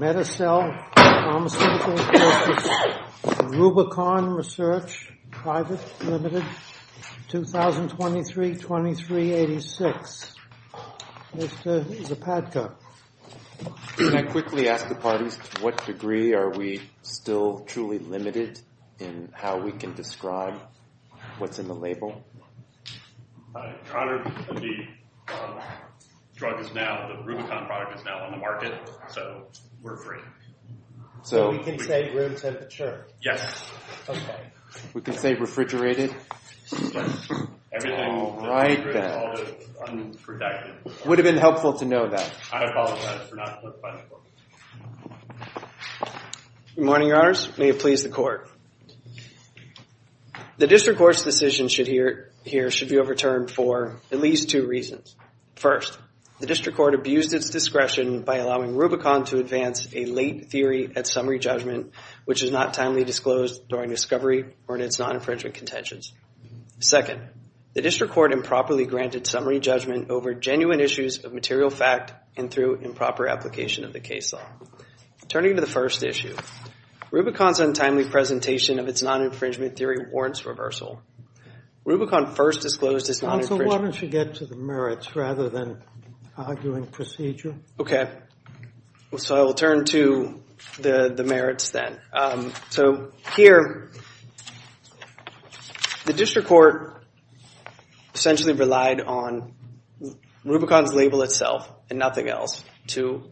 2023-2386. Mr. Zapadko. Can I quickly ask the parties to what degree are we still truly limited in how we can describe what's in the label? Your Honor, the drug is now, the Rubicon product is now on the market, so we're free. So we can say room temperature? Yes. Okay. We can say refrigerated? Yes. All right then. Everything that's refrigerated is always unprotected. Would have been helpful to know that. I apologize for not looking much more. Good morning, Your Honors. May it please the Court. The District Court's decision here should be overturned for at least two reasons. First, the District Court abused its discretion by allowing Rubicon to advance a late theory at summary judgment, which is not timely disclosed during discovery or in its non-infringement contentions. Second, the District Court improperly granted summary judgment over genuine issues of material fact and through improper application of the case law. Turning to the first issue, Rubicon's untimely presentation of its non-infringement theory warrants reversal. Rubicon first disclosed its non-infringement. Counsel, why don't you get to the merits rather than arguing procedure? Okay. So I will turn to the merits then. So here, the District Court essentially relied on Rubicon's label itself and nothing else to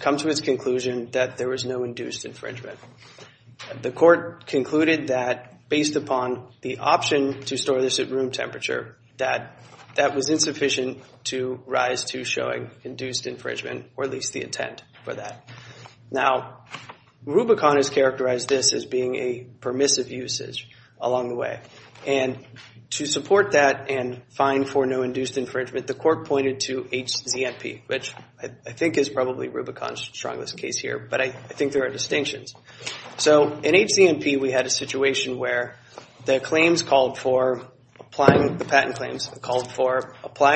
come to its conclusion that there was no induced infringement. The Court concluded that based upon the option to store this at room temperature, that that was insufficient to rise to showing induced infringement, or at least the intent for that. Now, Rubicon has characterized this as being a permissive usage along the way. And to support that and find for no induced infringement, the Court pointed to HZMP, which I think is probably Rubicon's strongest case here, but I think there are distinctions. So in HZMP, we had a situation where the patent claims called for applying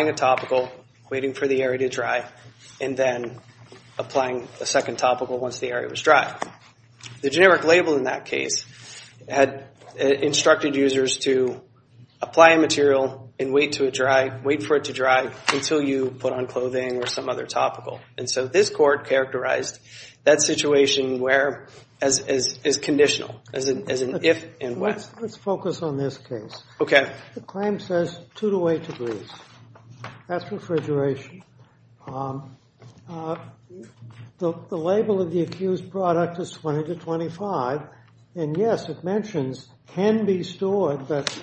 a topical, waiting for the area to dry, and then applying a second topical once the area was dry. The generic label in that case had instructed users to apply a material and wait for it to dry until you put on clothing or some other topical. And so this Court characterized that situation as conditional, as an if and when. Let's focus on this case. Okay. The claim says 2 to 8 degrees. That's refrigeration. The label of the accused product is 20 to 25. And yes, it mentions can be stored, but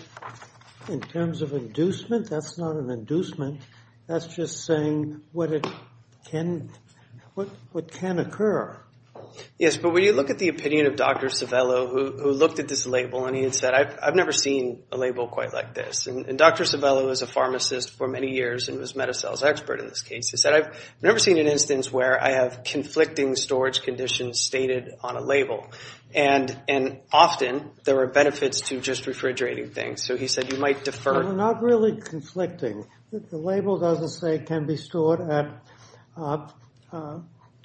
in terms of inducement, that's not an inducement. That's just saying what can occur. Yes, but when you look at the opinion of Dr. Civello, who looked at this label, and he had said, I've never seen a label quite like this. And Dr. Civello was a pharmacist for many years and was a meta-cells expert in this case. He said, I've never seen an instance where I have conflicting storage conditions stated on a label. And often, there are benefits to just refrigerating things. So he said you might defer. It's not really conflicting. The label doesn't say can be stored at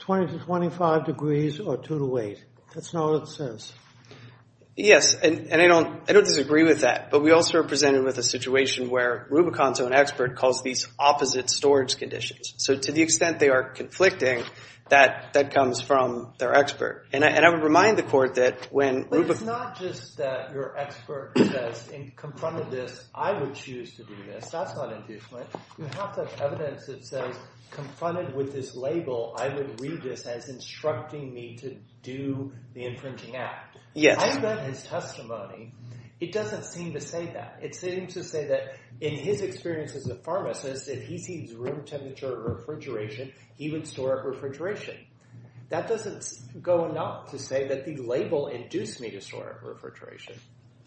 20 to 25 degrees or 2 to 8. That's not what it says. Yes, and I don't disagree with that. But we also are presented with a situation where Rubicon's own expert calls these opposite storage conditions. So to the extent they are conflicting, that comes from their expert. And I would remind the Court that when Rubicon – I would choose to do this. That's not inducement. You have to have evidence that says confronted with this label, I would read this as instructing me to do the infringing act. Yes. I've read his testimony. It doesn't seem to say that. It seems to say that in his experience as a pharmacist, if he sees room temperature refrigeration, he would store it refrigeration. That doesn't go enough to say that the label induced me to store it refrigeration.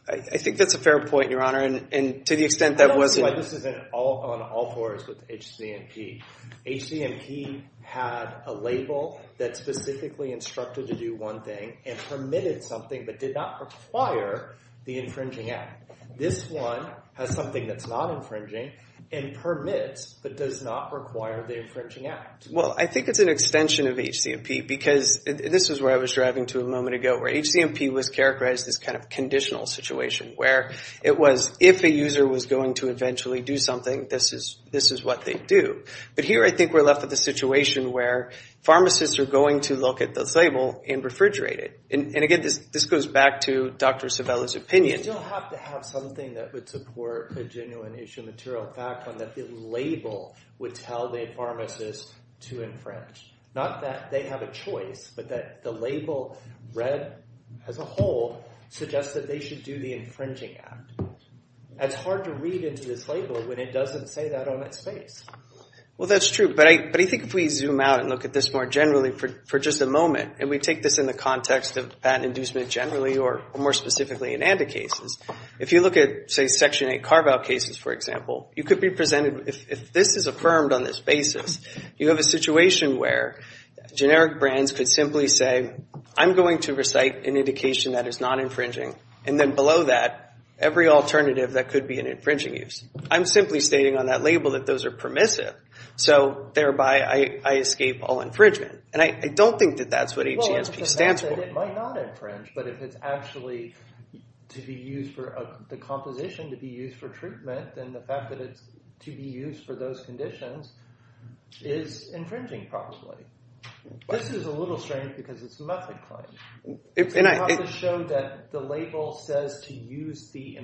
I think that's a fair point, Your Honor, and to the extent that wasn't – I don't see why this isn't on all floors with HCMP. HCMP had a label that specifically instructed to do one thing and permitted something but did not require the infringing act. This one has something that's not infringing and permits but does not require the infringing act. Well, I think it's an extension of HCMP because this is where I was driving to a moment ago, where HCMP was characterized as this kind of conditional situation where it was if a user was going to eventually do something, this is what they'd do. But here I think we're left with a situation where pharmacists are going to look at this label and refrigerate it. And, again, this goes back to Dr. Savella's opinion. We still have to have something that would support a genuine issue of material fact, one that the label would tell the pharmacist to infringe, not that they have a choice, but that the label read as a whole suggests that they should do the infringing act. It's hard to read into this label when it doesn't say that on its face. Well, that's true. But I think if we zoom out and look at this more generally for just a moment, and we take this in the context of patent inducement generally or more specifically in ANDA cases, if you look at, say, Section 8 carve-out cases, for example, you could be presented with, if this is affirmed on this basis, you have a situation where generic brands could simply say, I'm going to recite an indication that is not infringing, and then below that, every alternative that could be an infringing use. I'm simply stating on that label that those are permissive, so thereby I escape all infringement. And I don't think that that's what HG&P stands for. It might not infringe, but if it's actually to be used for the composition to be used for treatment, then the fact that it's to be used for those conditions is infringing, approximately. This is a little strange because it's a method claim. It's to show that the label says to use the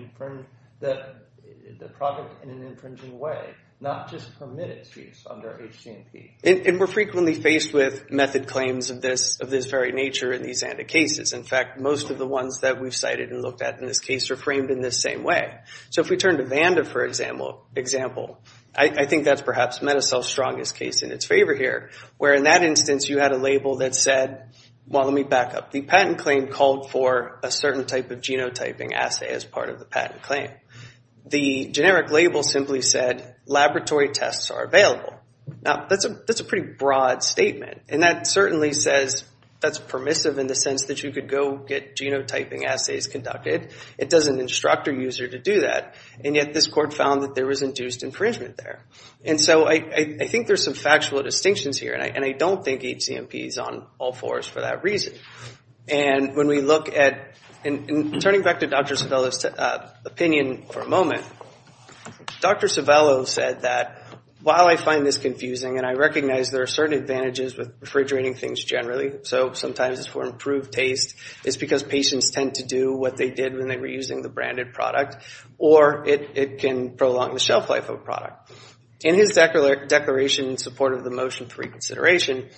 product in an infringing way, not just permit its use under HG&P. And we're frequently faced with method claims of this very nature in these ANDA cases. In fact, most of the ones that we've cited and looked at in this case are framed in this same way. So if we turn to Vanda, for example, I think that's perhaps MetaCell's strongest case in its favor here, where in that instance you had a label that said, well, let me back up. The patent claim called for a certain type of genotyping assay as part of the patent claim. The generic label simply said laboratory tests are available. Now, that's a pretty broad statement. And that certainly says that's permissive in the sense that you could go get genotyping assays conducted. It doesn't instruct a user to do that. And yet this court found that there was induced infringement there. And so I think there's some factual distinctions here, and I don't think HG&P is on all fours for that reason. And when we look at, and turning back to Dr. Civello's opinion for a moment, Dr. Civello said that while I find this confusing, and I recognize there are certain advantages with refrigerating things generally, so sometimes it's for improved taste, it's because patients tend to do what they did when they were using the branded product, or it can prolong the shelf life of a product. In his declaration in support of the motion for reconsideration,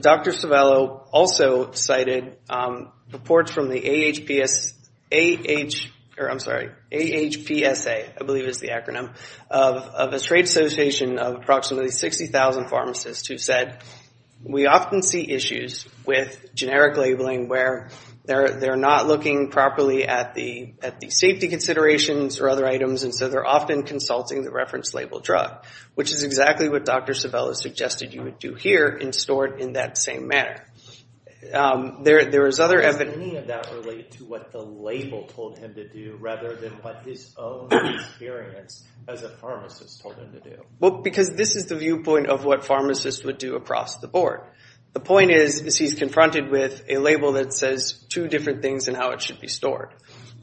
Dr. Civello also cited reports from the AHPSA, I believe is the acronym, of a trade association of approximately 60,000 pharmacists who said, we often see issues with generic labeling where they're not looking properly at the safety considerations or other items, and so they're often consulting the reference label drug, which is exactly what Dr. Civello suggested you would do here and store it in that same manner. There is other evidence. How does any of that relate to what the label told him to do, rather than what his own experience as a pharmacist told him to do? Well, because this is the viewpoint of what pharmacists would do across the board. The point is, is he's confronted with a label that says two different things and how it should be stored.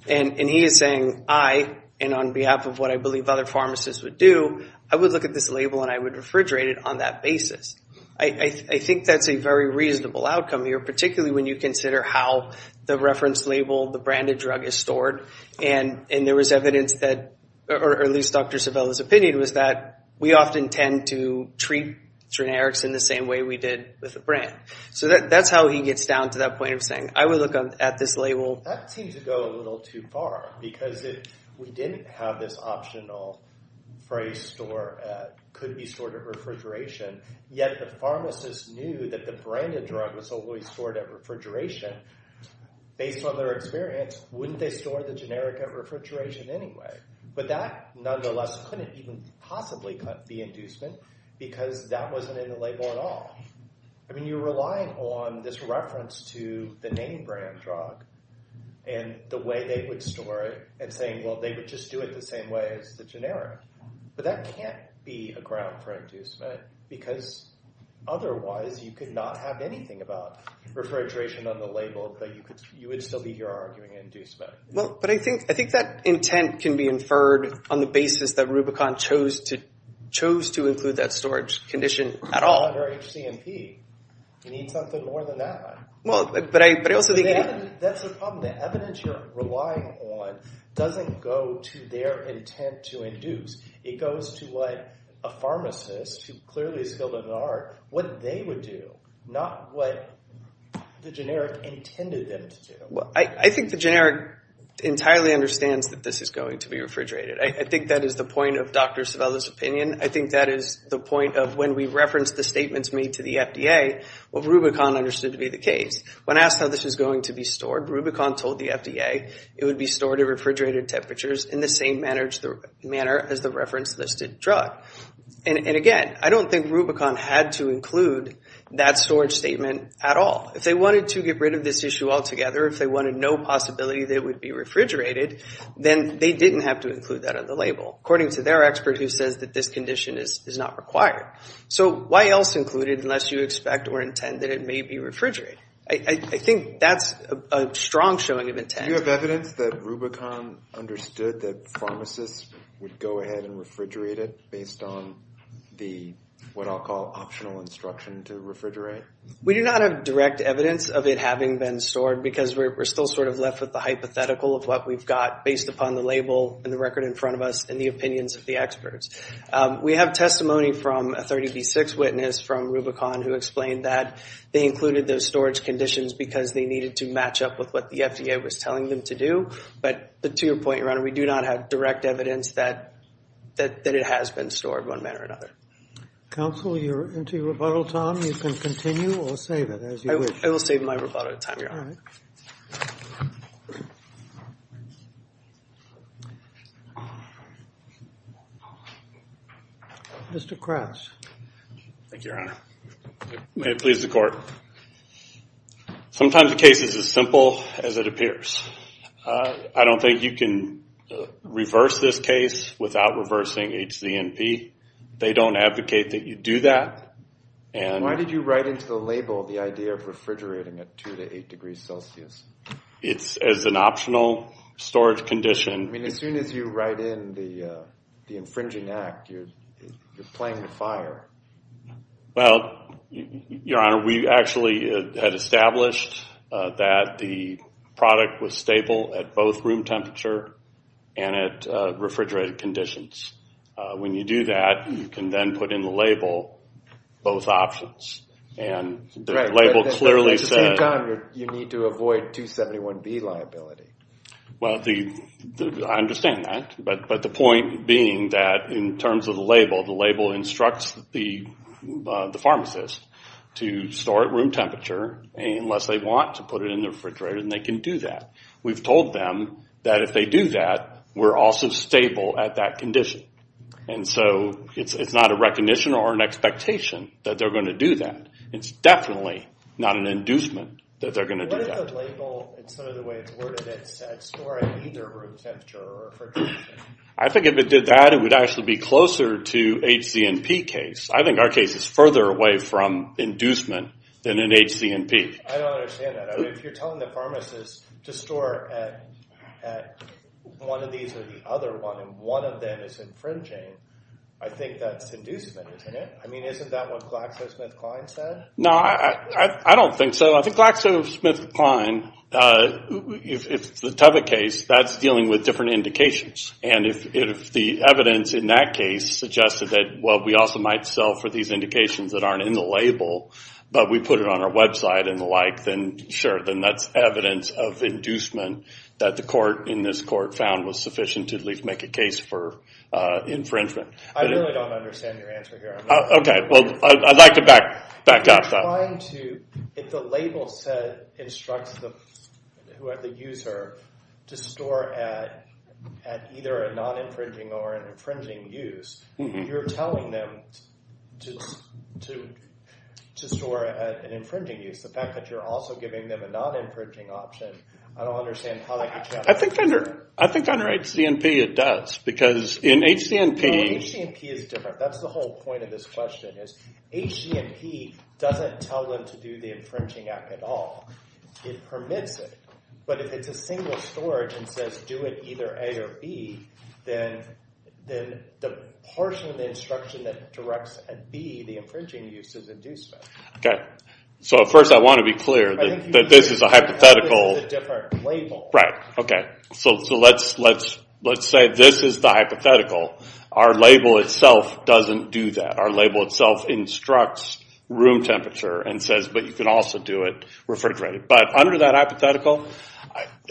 And he is saying, I, and on behalf of what I believe other pharmacists would do, I would look at this label and I would refrigerate it on that basis. I think that's a very reasonable outcome here, particularly when you consider how the reference label, the branded drug, is stored. And there was evidence that, or at least Dr. Civello's opinion was that, we often tend to treat generics in the same way we did with a brand. So that's how he gets down to that point of saying, I would look at this label. Well, that seems to go a little too far, because we didn't have this optional phrase, could be stored at refrigeration. Yet the pharmacist knew that the branded drug was always stored at refrigeration. Based on their experience, wouldn't they store the generic at refrigeration anyway? But that nonetheless couldn't even possibly cut the inducement, because that wasn't in the label at all. I mean, you're relying on this reference to the name brand drug and the way they would store it and saying, well, they would just do it the same way as the generic. But that can't be a ground for inducement, because otherwise you could not have anything about refrigeration on the label, but you would still be here arguing inducement. But I think that intent can be inferred on the basis that Rubicon chose to include that storage condition at all. It's not very HCMP. You need something more than that. That's the problem. The evidence you're relying on doesn't go to their intent to induce. It goes to what a pharmacist, who clearly is skilled in the art, what they would do, not what the generic intended them to do. I think the generic entirely understands that this is going to be refrigerated. I think that is the point of Dr. Savella's opinion. I think that is the point of when we reference the statements made to the FDA, what Rubicon understood to be the case. When asked how this is going to be stored, Rubicon told the FDA it would be stored at refrigerated temperatures in the same manner as the reference listed drug. And again, I don't think Rubicon had to include that storage statement at all. If they wanted to get rid of this issue altogether, if they wanted no possibility that it would be refrigerated, then they didn't have to include that on the label. According to their expert who says that this condition is not required. So why else include it unless you expect or intend that it may be refrigerated? I think that's a strong showing of intent. Do you have evidence that Rubicon understood that pharmacists would go ahead and refrigerate it based on the, what I'll call, optional instruction to refrigerate? We do not have direct evidence of it having been stored because we're still sort of left with the hypothetical of what we've got based upon the label and the record in front of us and the opinions of the experts. We have testimony from a 30B6 witness from Rubicon who explained that they included those storage conditions because they needed to match up with what the FDA was telling them to do. But to your point, Your Honor, we do not have direct evidence that it has been stored one manner or another. Counsel, you're into your rebuttal time. You can continue or save it as you wish. I will save my rebuttal time, Your Honor. Mr. Kratz. Thank you, Your Honor. May it please the Court. Sometimes a case is as simple as it appears. I don't think you can reverse this case without reversing HZNP. They don't advocate that you do that. Why did you write into the label the idea of refrigerating at 2 to 8 degrees Celsius? It's as an optional storage condition. I mean, as soon as you write in the infringing act, you're playing with fire. Well, Your Honor, we actually had established that the product was stable at both room temperature and at refrigerated conditions. When you do that, you can then put in the label both options. And the label clearly says... At the same time, you need to avoid 271B liability. Well, I understand that. But the point being that in terms of the label, the label instructs the pharmacist to store at room temperature unless they want to put it in the refrigerator, and they can do that. We've told them that if they do that, we're also stable at that condition. And so it's not a recognition or an expectation that they're going to do that. It's definitely not an inducement that they're going to do that. What if the label, in some of the ways, were to then set, store at either room temperature or refrigeration? I think if it did that, it would actually be closer to HZNP case. I think our case is further away from inducement than in HZNP. I don't understand that. If you're telling the pharmacist to store at one of these or the other one, and one of them is infringing, I think that's inducement, isn't it? I mean, isn't that what GlaxoSmithKline said? No, I don't think so. I think GlaxoSmithKline, if it's the Tuvok case, that's dealing with different indications. And if the evidence in that case suggested that, well, we also might sell for these indications that aren't in the label, but we put it on our website and the like, then sure. Then that's evidence of inducement that the court in this court found was sufficient to at least make a case for infringement. I really don't understand your answer here. Okay, well, I'd like to back up that. If the label instructs the user to store at either a non-infringing or an infringing use, if you're telling them to store at an infringing use, the fact that you're also giving them a non-infringing option, I don't understand how they could check that. I think under HCNP it does, because in HCNP— No, HCNP is different. That's the whole point of this question is HCNP doesn't tell them to do the infringing act at all. It permits it. But if it's a single storage and says, do it either A or B, then the portion of the instruction that directs at B, the infringing use, is inducement. Okay, so first I want to be clear that this is a hypothetical— That's a different label. Right, okay. So let's say this is the hypothetical. Our label itself doesn't do that. Our label itself instructs room temperature and says, but you can also do it refrigerated. But under that hypothetical,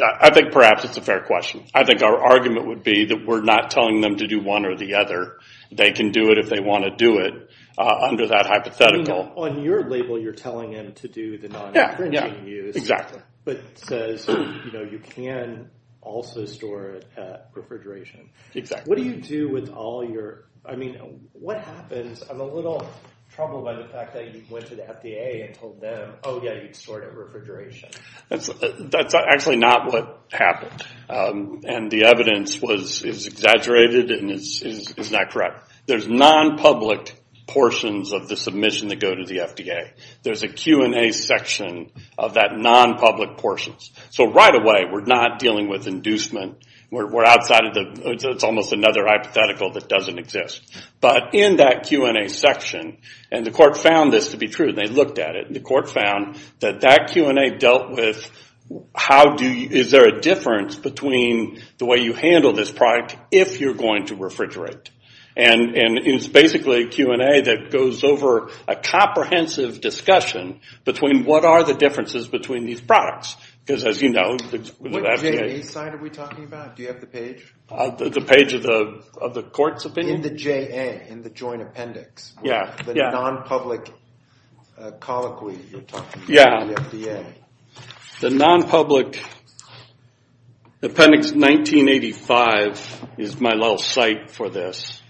I think perhaps it's a fair question. I think our argument would be that we're not telling them to do one or the other. They can do it if they want to do it under that hypothetical. On your label you're telling them to do the non-infringing use. Yeah, exactly. But it says you can also store it at refrigeration. Exactly. What do you do with all your—I mean, what happens— I'm a little troubled by the fact that you went to the FDA and told them, oh, yeah, you'd store it at refrigeration. That's actually not what happened. And the evidence is exaggerated and is not correct. There's non-public portions of the submission that go to the FDA. There's a Q&A section of that non-public portions. So right away we're not dealing with inducement. We're outside of the—it's almost another hypothetical that doesn't exist. But in that Q&A section—and the court found this to be true. They looked at it. The court found that that Q&A dealt with how do you— is there a difference between the way you handle this product if you're going to refrigerate. And it's basically a Q&A that goes over a comprehensive discussion between what are the differences between these products because, as you know, the FDA— What J&E side are we talking about? Do you have the page? The page of the court's opinion? In the JA, in the joint appendix. Yeah. The non-public colloquy you're talking about. Yeah. The FDA. The non-public appendix 1985 is my little site for this,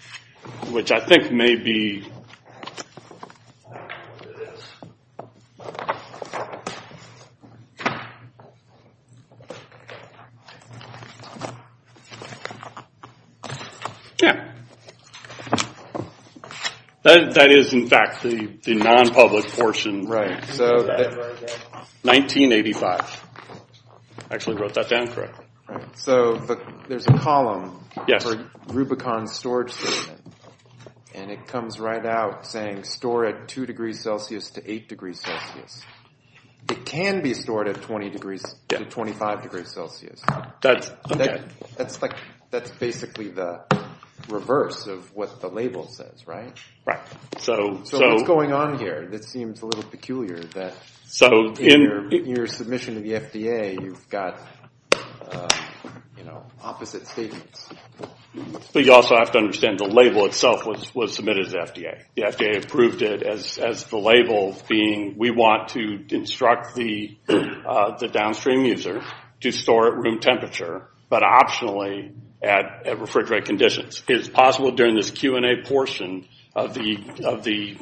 which I think may be— Yeah. That is, in fact, the non-public portion. So— 1985. I actually wrote that down correctly. Right. So there's a column for Rubicon Storage System. And it comes right up to the bottom. It can be stored at 20 degrees— Yeah. —to 25 degrees Celsius. That's— Okay. That's basically the reverse of what the label says, right? Right. So— So what's going on here that seems a little peculiar that— So in— —in your submission to the FDA, you've got, you know, opposite statements. But you also have to understand the label itself was submitted to the FDA. The FDA approved it as the label being, we want to instruct the downstream user to store at room temperature, but optionally at refrigerant conditions. It's possible during this Q&A portion of the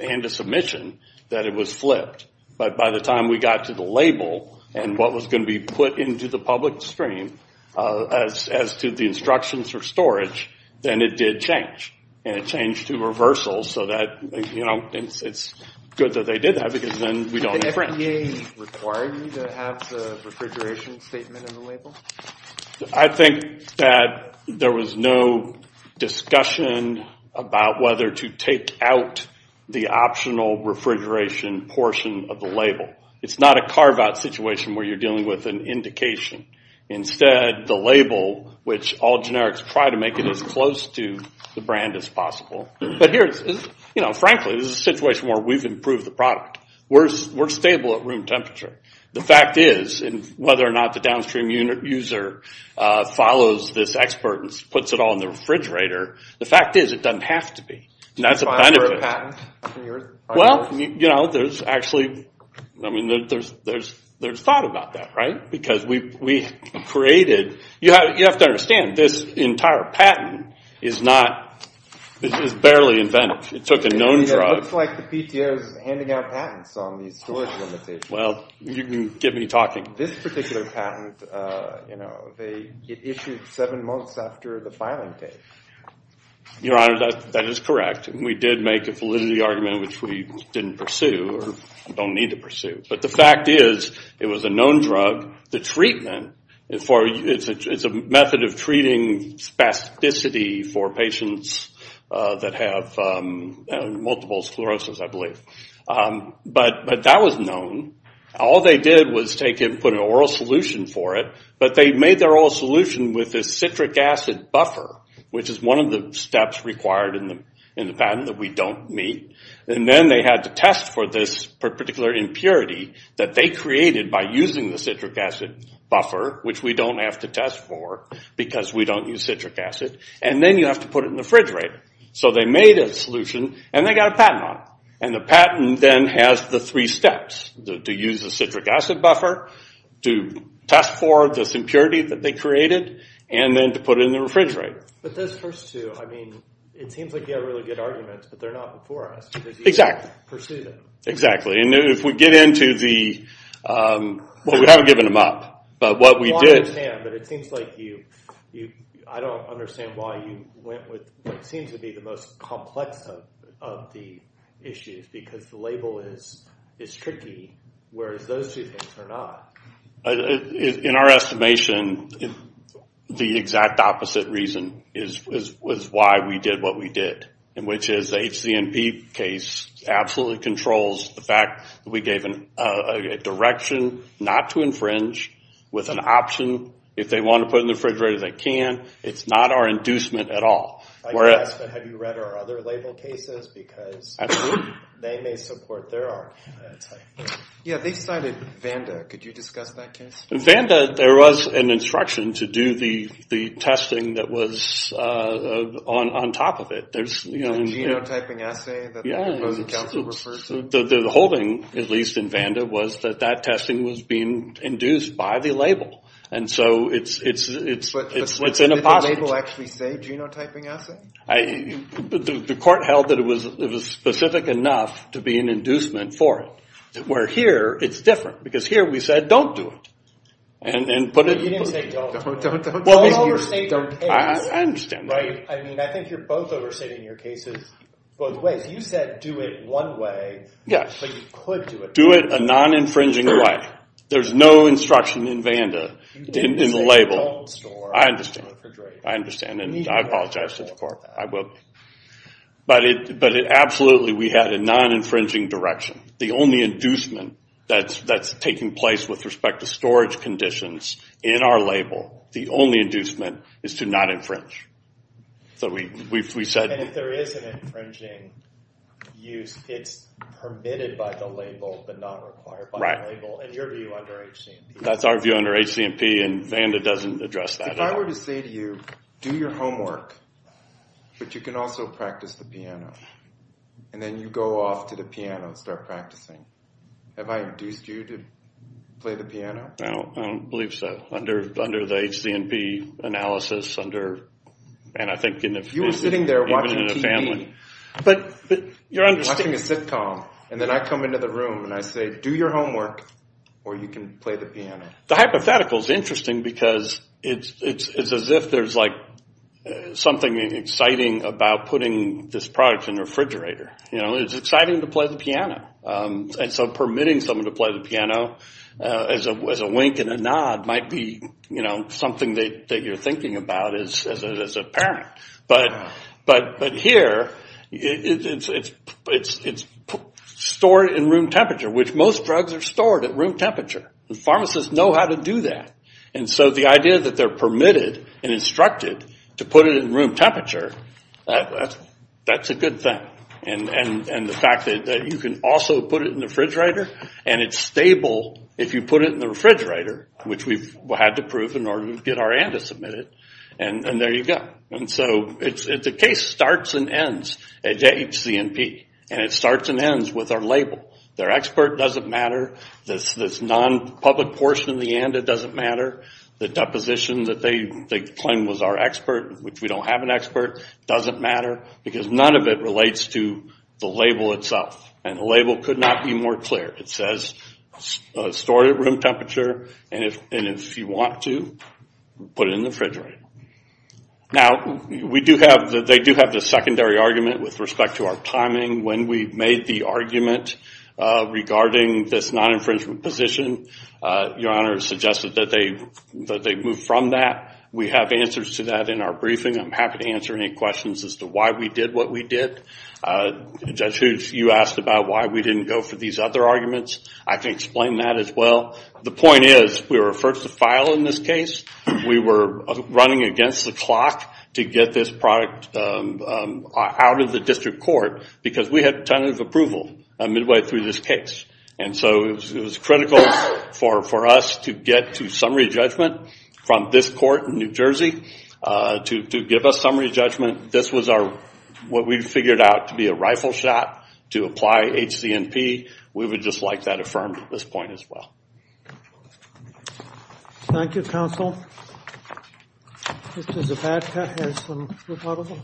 hand-to-submission that it was flipped. But by the time we got to the label and what was going to be put into the public stream as to the instructions for storage, then it did change. And it changed to reversal so that, you know, it's good that they did that because then we don't have to— Did the FDA require you to have the refrigeration statement in the label? I think that there was no discussion about whether to take out the optional refrigeration portion of the label. It's not a carve-out situation where you're dealing with an indication. Instead, the label, which all generics try to make it as close to the brand as possible. But here, you know, frankly, this is a situation where we've improved the product. We're stable at room temperature. The fact is, and whether or not the downstream user follows this expert and puts it all in the refrigerator, the fact is it doesn't have to be. Did you file for a patent? Well, you know, there's actually, I mean, there's thought about that, right? Because we created—you have to understand, this entire patent is not— it was barely invented. It took a known drug. It looks like the PTO is handing out patents on these storage limitations. Well, you can get me talking. This particular patent, you know, it issued seven months after the filing date. Your Honor, that is correct. We did make a validity argument, which we didn't pursue or don't need to pursue. But the fact is, it was a known drug. The treatment, it's a method of treating spasticity for patients that have multiple sclerosis, I believe. But that was known. All they did was take it and put an oral solution for it. But they made their oral solution with a citric acid buffer, which is one of the steps required in the patent that we don't meet. And then they had to test for this particular impurity that they created by using the citric acid buffer, which we don't have to test for because we don't use citric acid. And then you have to put it in the refrigerator. So they made a solution, and they got a patent on it. And the patent then has the three steps, to use the citric acid buffer, to test for this impurity that they created, and then to put it in the refrigerator. But those first two, I mean, it seems like you have really good arguments, but they're not before us. Exactly. Because you didn't pursue them. Exactly. And if we get into the, well, we haven't given them up. But what we did... But it seems like you, I don't understand why you went with what seems to be the most complex of the issues. Because the label is tricky, whereas those two things are not. In our estimation, the exact opposite reason is why we did what we did, which is the HCNP case absolutely controls the fact that we gave a direction not to infringe with an option. If they want to put it in the refrigerator, they can. It's not our inducement at all. I did ask, but have you read our other label cases? Because they may support their argument. Yeah, they cited Vanda. Could you discuss that case? Vanda, there was an instruction to do the testing that was on top of it. The genotyping assay that the opposing counsel refers to? The holding, at least in Vanda, was that that testing was being induced by the label. And so it's an impossibility. But did the label actually say genotyping assay? The court held that it was specific enough to be an inducement for it. Where here, it's different. Because here we said, don't do it. You didn't say don't. Don't overstate your case. I understand that. I think you're both overstating your cases both ways. You said do it one way, but you could do it the other way. Do it a non-infringing way. There's no instruction in Vanda in the label. I understand. I understand, and I apologize to the court. I will. But absolutely, we had a non-infringing direction. The only inducement that's taking place with respect to storage conditions in our label, the only inducement is to not infringe. And if there is an infringing use, it's permitted by the label but not required by the label, in your view, under HCMP? If I were to say to you, do your homework, but you can also practice the piano, and then you go off to the piano and start practicing, have I induced you to play the piano? I don't believe so. Under the HCMP analysis, under, and I think in the family. You were sitting there watching TV. But you're understanding. You're watching a sitcom, and then I come into the room, and I say, do your homework, or you can play the piano. The hypothetical is interesting because it's as if there's, like, something exciting about putting this product in the refrigerator. You know, it's exciting to play the piano. And so permitting someone to play the piano as a wink and a nod might be, you know, something that you're thinking about as a parent. But here, it's stored in room temperature, which most drugs are stored at room temperature. And pharmacists know how to do that. And so the idea that they're permitted and instructed to put it in room temperature, that's a good thing. And the fact that you can also put it in the refrigerator, and it's stable if you put it in the refrigerator, which we've had to prove in order to get our ANDA submitted, and there you go. And so the case starts and ends at HCMP, and it starts and ends with our label. Their expert doesn't matter. This non-public portion of the ANDA doesn't matter. The deposition that they claim was our expert, which we don't have an expert, doesn't matter, because none of it relates to the label itself. And the label could not be more clear. It says stored at room temperature, and if you want to, put it in the refrigerator. Now, they do have this secondary argument with respect to our timing. When we made the argument regarding this non-infringement position, your Honor suggested that they move from that. We have answers to that in our briefing. I'm happy to answer any questions as to why we did what we did. Judge Hoots, you asked about why we didn't go for these other arguments. I can explain that as well. The point is we were first to file in this case. We were running against the clock to get this product out of the district court because we had tentative approval midway through this case. And so it was critical for us to get to summary judgment from this court in New Jersey to give us summary judgment. This was what we figured out to be a rifle shot to apply HCMP. We would just like that affirmed at this point as well. Thank you, counsel. Mr. Zapata has some rebuttals.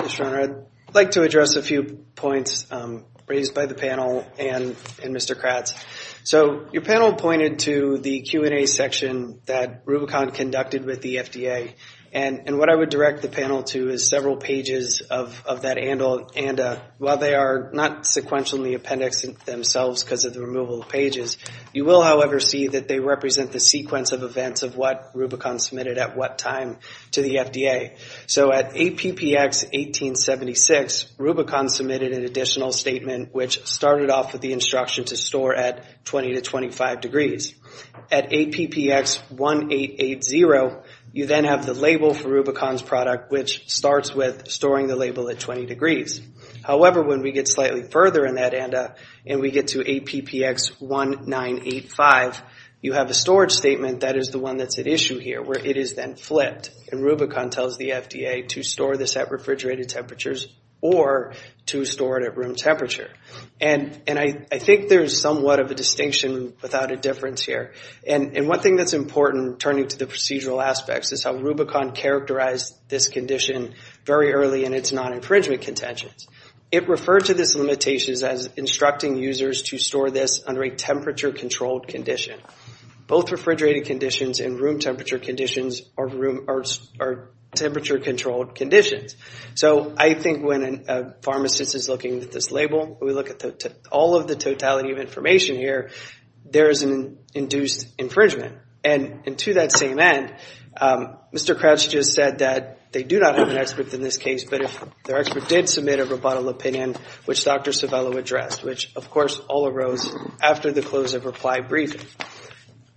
Yes, Your Honor. I'd like to address a few points raised by the panel and Mr. Kratz. So your panel pointed to the Q&A section that Rubicon conducted with the FDA. And what I would direct the panel to is several pages of that ANDA. While they are not sequential in the appendix themselves because of the removal of pages, you will, however, see that they represent the sequence of events of what Rubicon submitted at what time to the FDA. So at APPX 1876, Rubicon submitted an additional statement, which started off with the instruction to store at 20 to 25 degrees. At APPX 1880, you then have the label for Rubicon's product, which starts with storing the label at 20 degrees. However, when we get slightly further in that ANDA and we get to APPX 1985, you have a storage statement that is the one that's at issue here, where it is then flipped. And Rubicon tells the FDA to store this at refrigerated temperatures or to store it at room temperature. And I think there's somewhat of a distinction without a difference here. And one thing that's important, turning to the procedural aspects, is how Rubicon characterized this condition very early in its non-infringement contentions. It referred to this limitation as instructing users to store this under a temperature-controlled condition. Both refrigerated conditions and room temperature conditions are temperature-controlled conditions. So I think when a pharmacist is looking at this label, we look at all of the totality of information here, there is an induced infringement. And to that same end, Mr. Crouch just said that they do not have an expert in this case, but if their expert did submit a rebuttal opinion, which Dr. Civello addressed, which, of course, all arose after the close of reply briefing.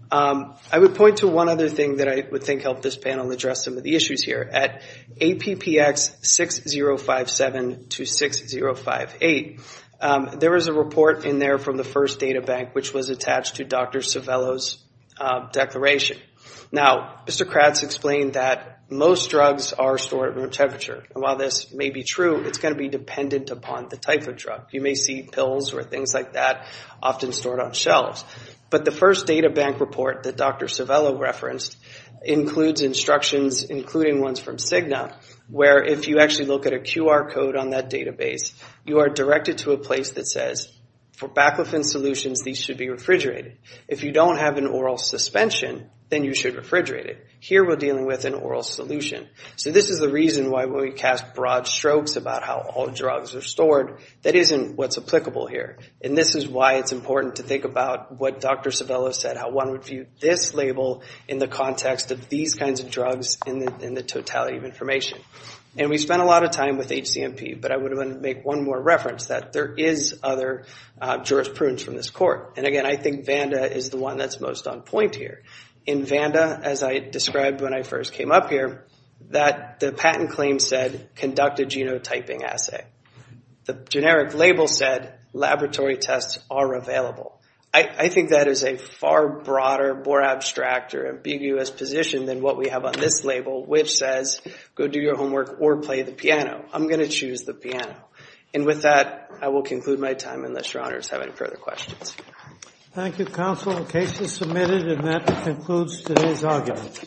I would point to one other thing that I would think helped this panel address some of the issues here. At APPX 6057 to 6058, there was a report in there from the first databank, which was attached to Dr. Civello's declaration. Now, Mr. Crouch explained that most drugs are stored at room temperature. And while this may be true, it's going to be dependent upon the type of drug. You may see pills or things like that often stored on shelves. But the first databank report that Dr. Civello referenced includes instructions, including ones from Cigna, where if you actually look at a QR code on that database, you are directed to a place that says, for baclofen solutions, these should be refrigerated. If you don't have an oral suspension, then you should refrigerate it. Here we're dealing with an oral solution. So this is the reason why when we cast broad strokes about how all drugs are stored, that isn't what's applicable here. And this is why it's important to think about what Dr. Civello said, how one would view this label in the context of these kinds of drugs in the totality of information. And we spent a lot of time with HCMP, but I would want to make one more reference that there is other jurisprudence from this court. And, again, I think VANDA is the one that's most on point here. In VANDA, as I described when I first came up here, that the patent claim said conducted genotyping assay. The generic label said laboratory tests are available. I think that is a far broader, more abstract or ambiguous position than what we have on this label, which says go do your homework or play the piano. I'm going to choose the piano. And with that, I will conclude my time, unless your honors have any further questions. Thank you, counsel. The case is submitted, and that concludes today's argument.